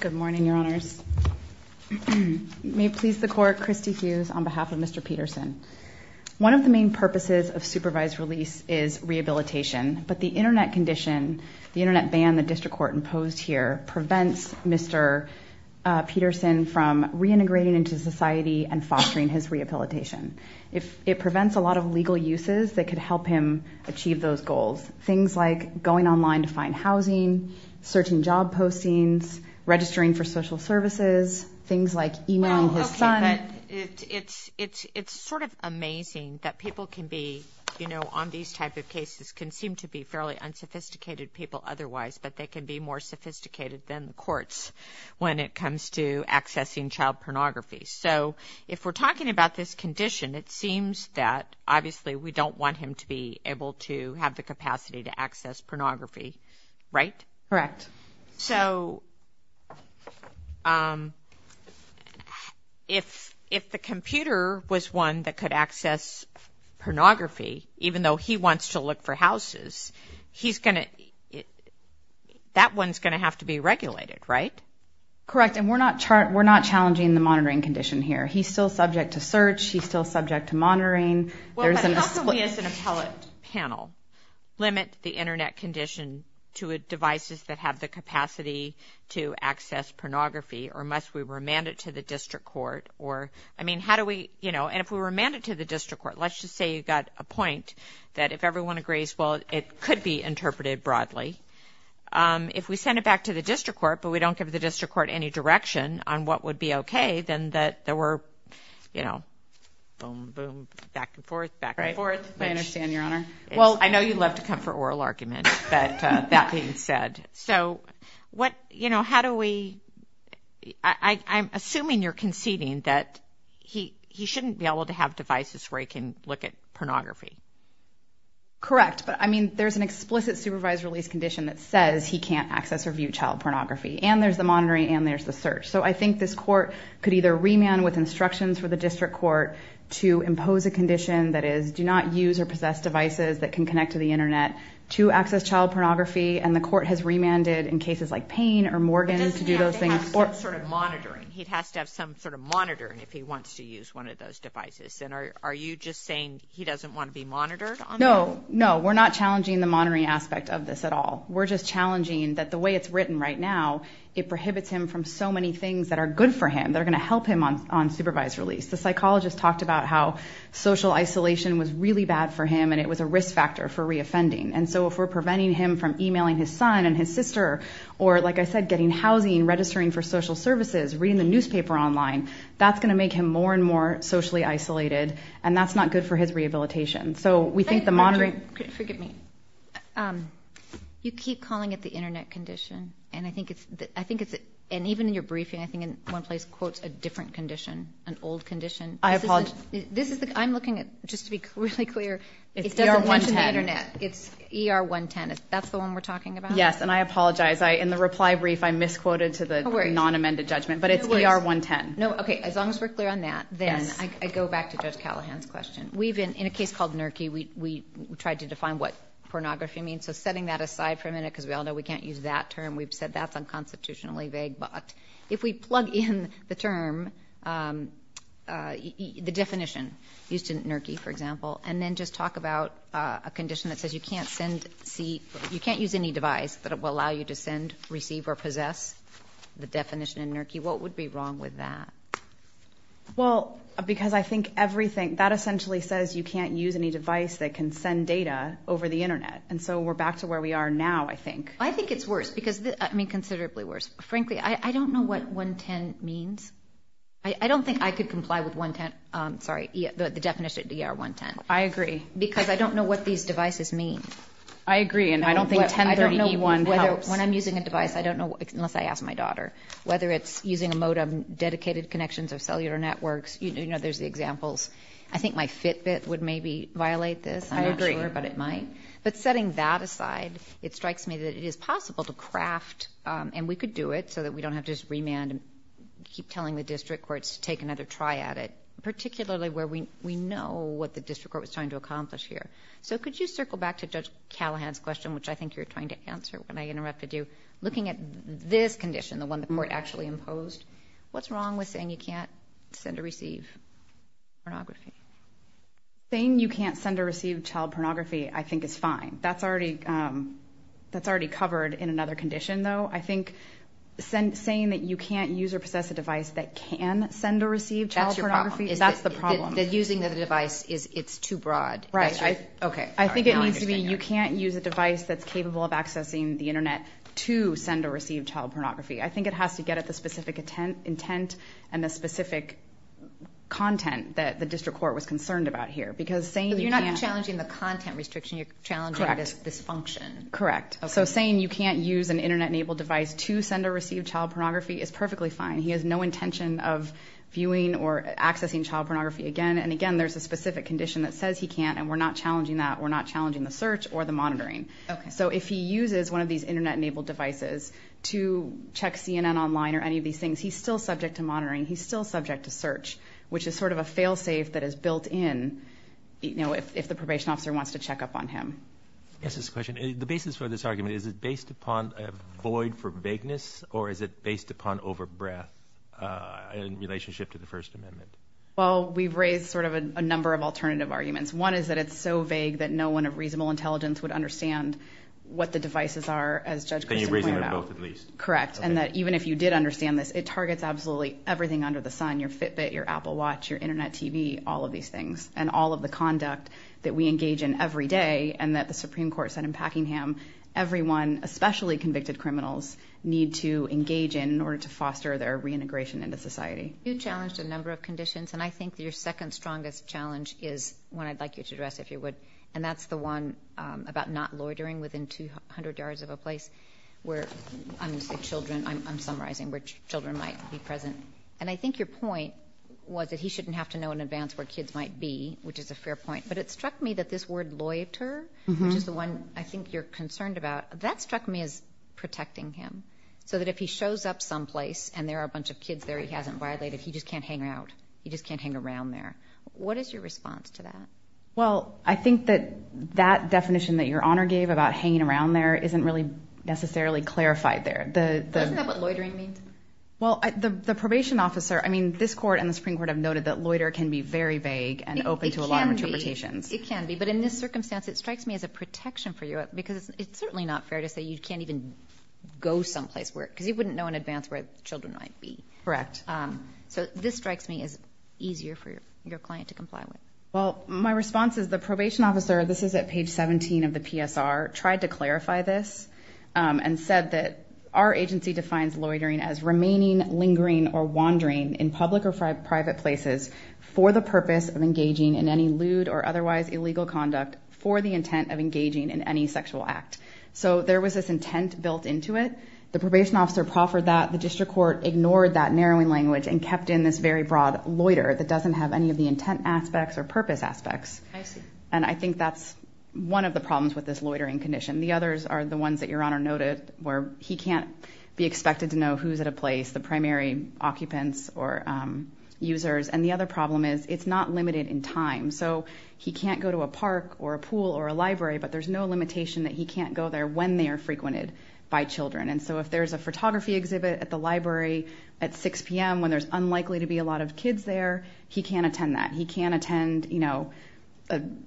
Good morning, your honors. May it please the court, Christy Hughes on behalf of Mr. Peterson. One of the main purposes of supervised release is rehabilitation, but the internet condition, the internet ban the district court imposed here, prevents Mr. Peterson from reintegrating into society and fostering his rehabilitation. It prevents a lot of legal uses that could help him achieve those goals. Things like going online to find housing, searching job postings, registering for social services, things like emailing his son. It's sort of amazing that people can be, you know, on these type of cases can seem to be fairly unsophisticated people otherwise, but they can be more sophisticated than the courts when it comes to accessing child pornography. So if we're talking about this condition, it seems that obviously we don't want him to be able to have the capacity to access pornography, right? Correct. So if the computer was one that could access pornography, even though he wants to look for houses, he's going to, that one's going to have to be regulated, right? Correct, and we're not challenging the monitoring condition here. He's still subject to search, he's still subject to monitoring. Well, but how can we, as an appellate panel, limit the internet condition to devices that have the capacity to access pornography, or must we remand it to the district court, or, I mean, how do we, you know, and if we remand it to the district court, let's just say you got a point that if everyone agrees, well, it could be interpreted broadly. If we send it back to the district court, but we don't give the district court any direction on what would be okay, then that there were, you know, boom, boom, back and forth, back and forth. I understand, Your Honor. Well, I know you love to come for oral arguments, but that being said, so what, you know, how do we, I'm assuming you're conceding that he shouldn't be able to have devices where he can look at pornography. Correct, but I mean, there's an explicit supervised release condition that says he can't access or view child pornography, and there's the monitoring, and there's the search. So I think this court could either remand with instructions for the district court to impose a condition that is do not use or possess devices that can connect to the internet to access child pornography, and the court has remanded in cases like Payne or Morgan to do those things. He doesn't have to have some sort of monitoring. He has to have some sort of monitoring if he wants to use one of those devices, and are you just saying he doesn't want to be monitored? No, no, we're not challenging the monitoring aspect of this at all. We're just challenging that the way it's written right now, it prohibits him from so many things that are good for him, that are going to help him on supervised release. The psychologist talked about how social isolation was really bad for him, and it was a risk factor for reoffending, and so if we're preventing him from emailing his son and his sister, or like I said, getting housing, registering for social services, reading the newspaper online, that's going to make him more and more socially isolated, and that's not good for his rehabilitation. So we think the internet condition, and even in your briefing, I think in one place quotes a different condition, an old condition. I'm looking at, just to be really clear, it doesn't mention the internet. It's ER 110. That's the one we're talking about? Yes, and I apologize. In the reply brief, I misquoted to the non-amended judgment, but it's ER 110. No worries. No, okay, as long as we're clear on that, then I go back to Judge Callahan's question. In a case called Nurki, we tried to we can't use that term. We've said that's unconstitutionally vague, but if we plug in the term, the definition used in Nurki, for example, and then just talk about a condition that says you can't send, you can't use any device that will allow you to send, receive, or possess the definition in Nurki, what would be wrong with that? Well, because I think everything, that essentially says you can't use any device that can send data over the internet, and so we're back to where we are now, I think. I think it's worse because, I mean, considerably worse. Frankly, I don't know what 110 means. I don't think I could comply with 110, sorry, the definition of ER 110. I agree. Because I don't know what these devices mean. I agree, and I don't think 1031 helps. When I'm using a device, I don't know, unless I ask my daughter, whether it's using a modem, dedicated connections of cellular networks, you know, there's the examples. I think my Fitbit would maybe violate this. I agree. But setting that aside, it strikes me that it is possible to craft, and we could do it, so that we don't have to just remand and keep telling the district courts to take another try at it, particularly where we know what the district court was trying to accomplish here. So could you circle back to Judge Callahan's question, which I think you're trying to answer when I interrupted you, looking at this condition, the one the court actually found. Saying you can't send or receive child pornography, I think is fine. That's already covered in another condition, though. I think saying that you can't use or possess a device that can send or receive child pornography, that's the problem. That using the device, it's too broad. Right. Okay. I think it needs to be, you can't use a device that's capable of accessing the internet to send or receive child pornography. I think it has to get at the content that the district court was concerned about here. You're not challenging the content restriction, you're challenging this function. Correct. Correct. So saying you can't use an internet-enabled device to send or receive child pornography is perfectly fine. He has no intention of viewing or accessing child pornography again. And again, there's a specific condition that says he can't, and we're not challenging that. We're not challenging the search or the monitoring. So if he uses one of these internet-enabled devices to check CNN online or any of these things, he's still subject to monitoring. He's still subject to search, which is sort of a fail-safe that is built in, you know, if the probation officer wants to check up on him. Yes, this question, the basis for this argument, is it based upon a void for vagueness, or is it based upon over-breath in relationship to the First Amendment? Well, we've raised sort of a number of alternative arguments. One is that it's so vague that no one of reasonable intelligence would understand what the devices are, as Judge Grissom pointed out. Any reason to vote at least. Correct. And that even if you did understand this, it targets absolutely everything under the sun, your Fitbit, your Apple Watch, your internet TV, all of these things, and all of the conduct that we engage in every day and that the Supreme Court said in Packingham everyone, especially convicted criminals, need to engage in in order to foster their reintegration into society. You challenged a number of conditions, and I think your second strongest challenge is one I'd like you to address, if you would, and that's the one about not loitering within 200 yards of a place where, I'm summarizing, where children might be present. And I think your point was that he shouldn't have to know in advance where kids might be, which is a fair point, but it struck me that this word loiter, which is the one I think you're concerned about, that struck me as protecting him, so that if he shows up someplace and there are a bunch of kids there he hasn't violated, he just can't hang out. He just can't hang around there. What is your response to that? Well, I think that that definition that your Honor gave about hanging around there isn't really necessarily clarified there. Isn't that what loitering means? Well, the probation officer, I mean, this Court and the Supreme Court have noted that loiter can be very vague and open to a lot of interpretations. It can be, but in this circumstance it strikes me as a protection for you because it's certainly not fair to say you can't even go someplace where, because you wouldn't know in advance where children might be. Correct. So this strikes me as easier for your client to comply with. Well, my response is the probation officer, this is at page 17 of the PSR, tried to clarify this and said that our agency defines loitering as remaining, lingering, or wandering in public or private places for the purpose of engaging in any lewd or otherwise illegal conduct for the intent of engaging in any sexual act. So there was this intent built into it. The probation officer proffered that. The district court ignored that doesn't have any of the intent aspects or purpose aspects. I see. And I think that's one of the problems with this loitering condition. The others are the ones that your Honor noted where he can't be expected to know who's at a place, the primary occupants or users. And the other problem is it's not limited in time. So he can't go to a park or a pool or a library, but there's no limitation that he can't go there when they are frequented by children. And so if there's a photography exhibit at the library at 6 p.m. when there's unlikely to be a lot of kids there, he can't attend that. He can't attend, you know, an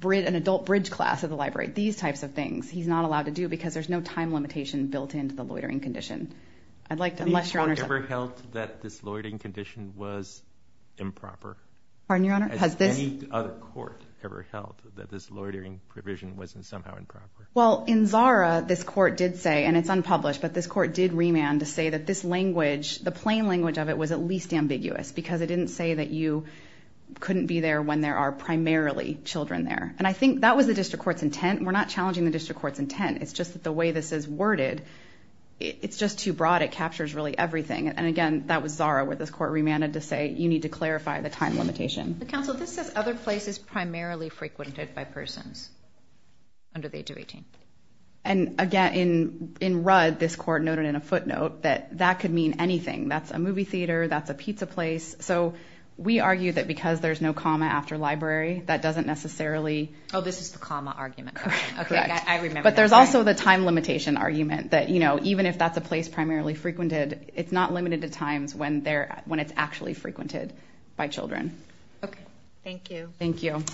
adult bridge class at the library. These types of things he's not allowed to do because there's no time limitation built into the loitering condition. I'd like to unless your Honor's... Has any court ever held that this loitering condition was improper? Pardon your Honor? Has any other court ever held that this loitering provision wasn't somehow Well, in ZARA, this court did say, and it's unpublished, but this court did remand to say that this language, the plain language of it was at least ambiguous because it didn't say that you couldn't be there when there are primarily children there. And I think that was the district court's intent. We're not challenging the district court's intent. It's just that the way this is worded, it's just too broad. It captures really everything. And again, that was ZARA where this court remanded to say you need to clarify the time limitation. Counsel, this says other places primarily frequented by persons under the age of 18. And again, in Rudd, this court noted in a footnote that that could mean anything. That's a movie theater. That's a pizza place. So we argue that because there's no comma after library, that doesn't necessarily... Oh, this is the comma argument. But there's also the time limitation argument that, you know, even if that's a place primarily frequented, it's not limited to times when it's actually frequented by children. Thank you. Thank you.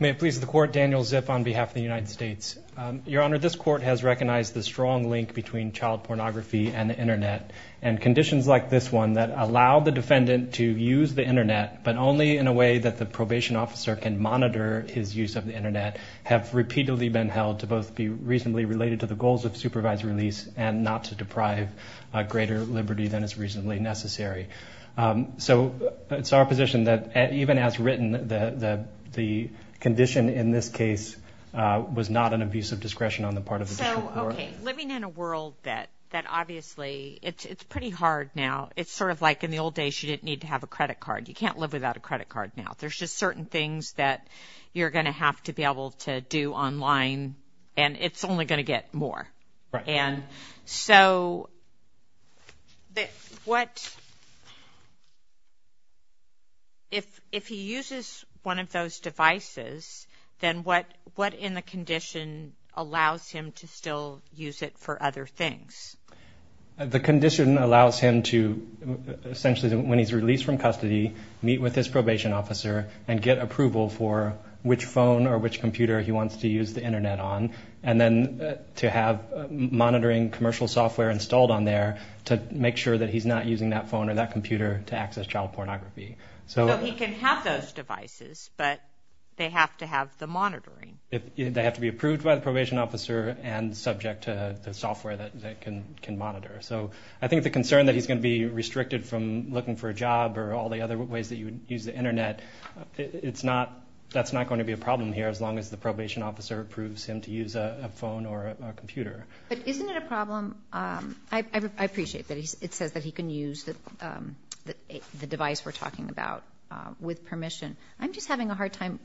May it please the court, Daniel Zipf on behalf of the United States. Your Honor, this court has recognized the strong link between child pornography and the internet. And conditions like this one that allow the defendant to use the internet, but only in a way that the probation officer can monitor his use of the internet, have repeatedly been held to both be reasonably related to the goals of supervised release and not to deprive a greater liberty than is reasonably necessary. So it's our position that even as written, the condition in this case was not an abuse of discretion on the part of the... So, okay. Living in a world that obviously it's pretty hard now. It's sort of like in the old days, you didn't need to have a credit card. You can't live without a credit card now. There's just certain things that you're going to have to be able to do online and it's only going to get more. And so, if he uses one of those devices, then what in the condition allows him to still use it for other things? The condition allows him to essentially, when he's released from custody, meet with his probation officer and get approval for which phone or which computer he wants to use the internet on. And then to have monitoring commercial software installed on there to make sure that he's not using that phone or that computer to access child pornography. So he can have those devices, but they have to have the monitoring. They have to be approved by the probation officer and subject to the software that can monitor. So I think the concern that he's going to be restricted from looking for a job or all the other ways that you would use the internet, that's not going to be a problem here as long as the probation officer approves him to use a phone or a computer. But isn't it a problem? I appreciate that it says that he can use the device we're talking about with permission. I'm just having a hard time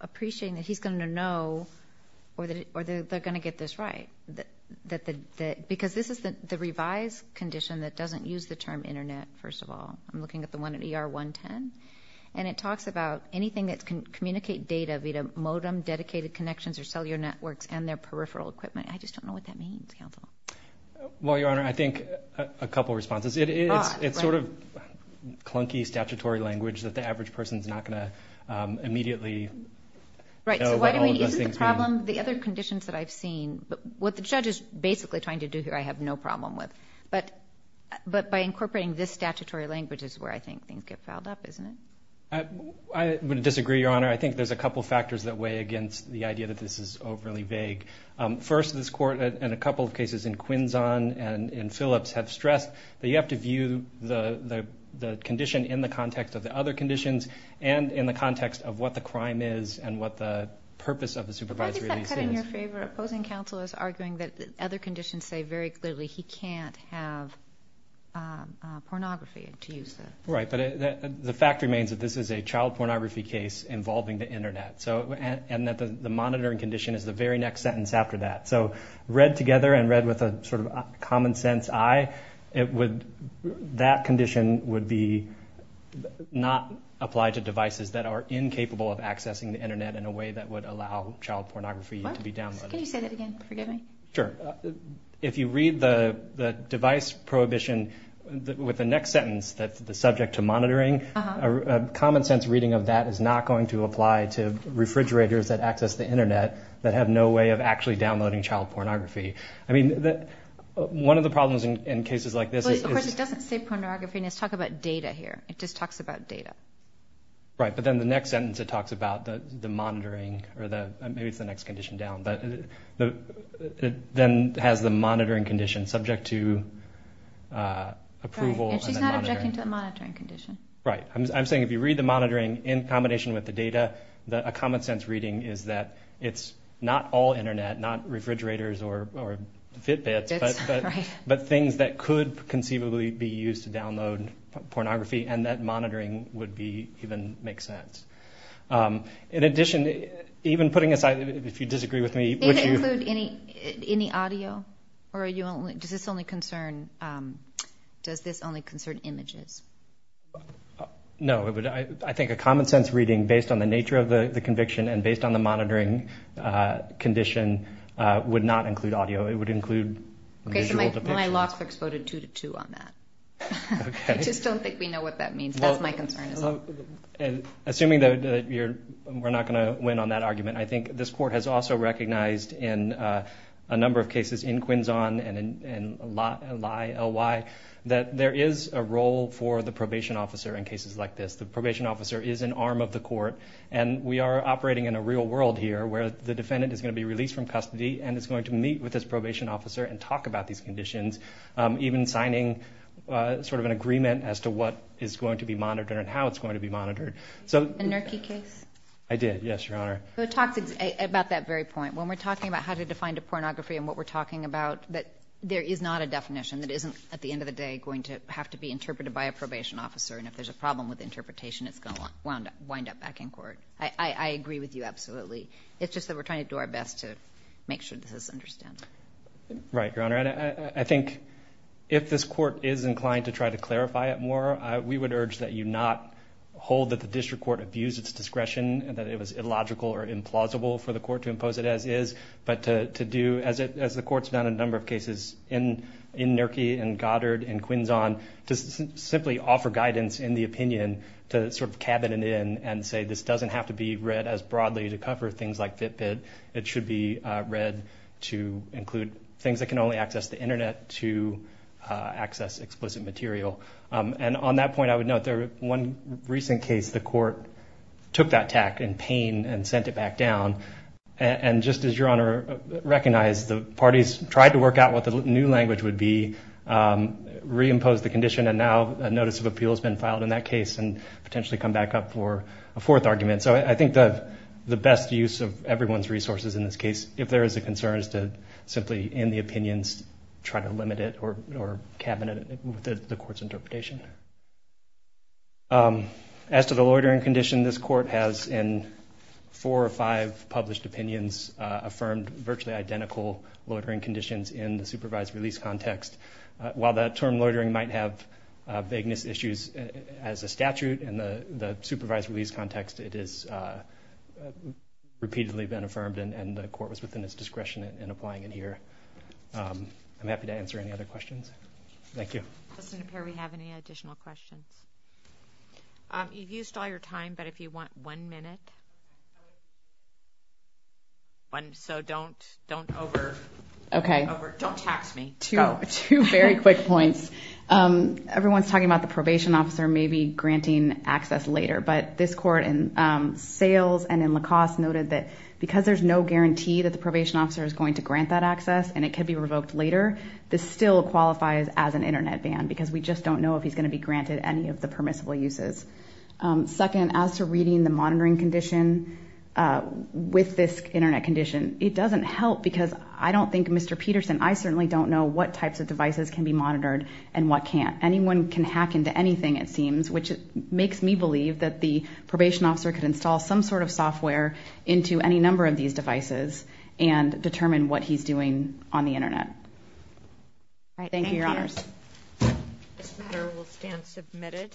appreciating that he's going to know or that they're going to get this right. Because this is the revised condition that doesn't use the term internet, first of all. I'm looking at the one at ER 110. And it talks about anything that can communicate data via modem, dedicated connections or cellular networks and their peripheral equipment. I just don't know what that means, counsel. Well, Your Honor, I think a couple of responses. It's sort of clunky statutory language that the average person's not going to immediately know what all of those things mean. Right. So why don't we use the problem, the other conditions that I've seen, what the judge is basically trying to do here, I have no problem with. But by incorporating this statutory language is where I think things get fouled up, isn't it? I would disagree, Your Honor. I think there's a couple of factors that weigh against the idea that this is overly vague. First, this court in a couple of cases in Quinzon and in Phillips have stressed that you have to view the condition in the context of the other conditions and in the context of what the crime is and what the purpose of the supervisory of these things. Why does that cut in your favor? Opposing counsel is arguing that other conditions say very clearly he can't have pornography to use the... Right. But the fact remains that this is a child pornography case involving the internet. And that the monitoring condition is the very next sentence after that. So read together and read with a sort of common sense eye, that condition would not apply to devices that are incapable of accessing the internet in a way that would allow child pornography to be downloaded. What? Can you say that again? Forgive me. Sure. If you read the device prohibition with the next sentence that's the subject to monitoring, a common sense reading of that is not going to apply to refrigerators that access the internet that have no way of actually downloading child pornography. I mean, one of the problems in cases like this is... Of course, it doesn't say pornography. Let's talk about data here. It just talks about data. Right. But then the next sentence it talks about the monitoring or the, maybe it's the next condition down, but it then has the monitoring condition subject to approval. And she's not objecting to the monitoring condition. Right. I'm saying if you read the monitoring in combination with the data, a common sense reading is that it's not all internet, not refrigerators or Fitbits, but things that could conceivably be used to download pornography and that monitoring would even make sense. In addition, even putting aside, if you disagree with me... Does it include any audio? Or does this only concern images? No. I think a common sense reading based on the nature of the conviction and based on the would not include audio. It would include visual depiction. My law clerks voted two to two on that. I just don't think we know what that means. That's my concern. Assuming that we're not going to win on that argument, I think this court has also recognized in a number of cases in Quinzon and in Lye, that there is a role for the probation officer in cases like this. The probation officer is an arm of the court and we are operating in a real world here where the defendant is going to be released from custody and is going to meet with this probation officer and talk about these conditions, even signing an agreement as to what is going to be monitored and how it's going to be monitored. A NERCI case? I did. Yes, Your Honor. It talks about that very point. When we're talking about how to define the pornography and what we're talking about, there is not a definition that isn't at the end of the day going to have to be interpreted by a probation officer. If there's a problem with interpretation, it's going to try to do our best to make sure this is understood. Right, Your Honor. I think if this court is inclined to try to clarify it more, we would urge that you not hold that the district court abused its discretion and that it was illogical or implausible for the court to impose it as is, but to do, as the court's done in a number of cases in NERCI and Goddard and Quinzon, to simply offer guidance in the opinion to sort of cabin it in and say this doesn't have to be as broadly to cover things like Fitbit. It should be read to include things that can only access the internet to access explicit material. And on that point, I would note one recent case, the court took that tack in pain and sent it back down. And just as Your Honor recognized, the parties tried to work out what the new language would be, reimpose the condition, and now a notice of appeal has been filed in that case and potentially come back up for a fourth argument. So I think the best use of everyone's resources in this case, if there is a concern, is to simply, in the opinions, try to limit it or cabin it with the court's interpretation. As to the loitering condition, this court has, in four or five published opinions, affirmed virtually identical loitering conditions in the supervised release context. While that term loitering might have vagueness issues as a statute and the context, it has repeatedly been affirmed and the court was within its discretion in applying it here. I'm happy to answer any other questions. Thank you. Does it appear we have any additional questions? You've used all your time, but if you want one minute, so don't over... Don't tax me. Two very quick points. Everyone's talking about the probation officer maybe granting access later, but this court in Sales and in Lacoste noted that because there's no guarantee that the probation officer is going to grant that access and it could be revoked later, this still qualifies as an internet ban because we just don't know if he's going to be granted any of the permissible uses. Second, as to reading the monitoring condition with this internet condition, it doesn't help because I don't think, Mr. Peterson, I certainly don't know what types of devices can be monitored and what can't. Anyone can hack into anything, it seems, which makes me believe that the probation officer could install some sort of software into any number of these devices and determine what he's doing on the internet. Thank you, Your Honors. This matter will stand submitted.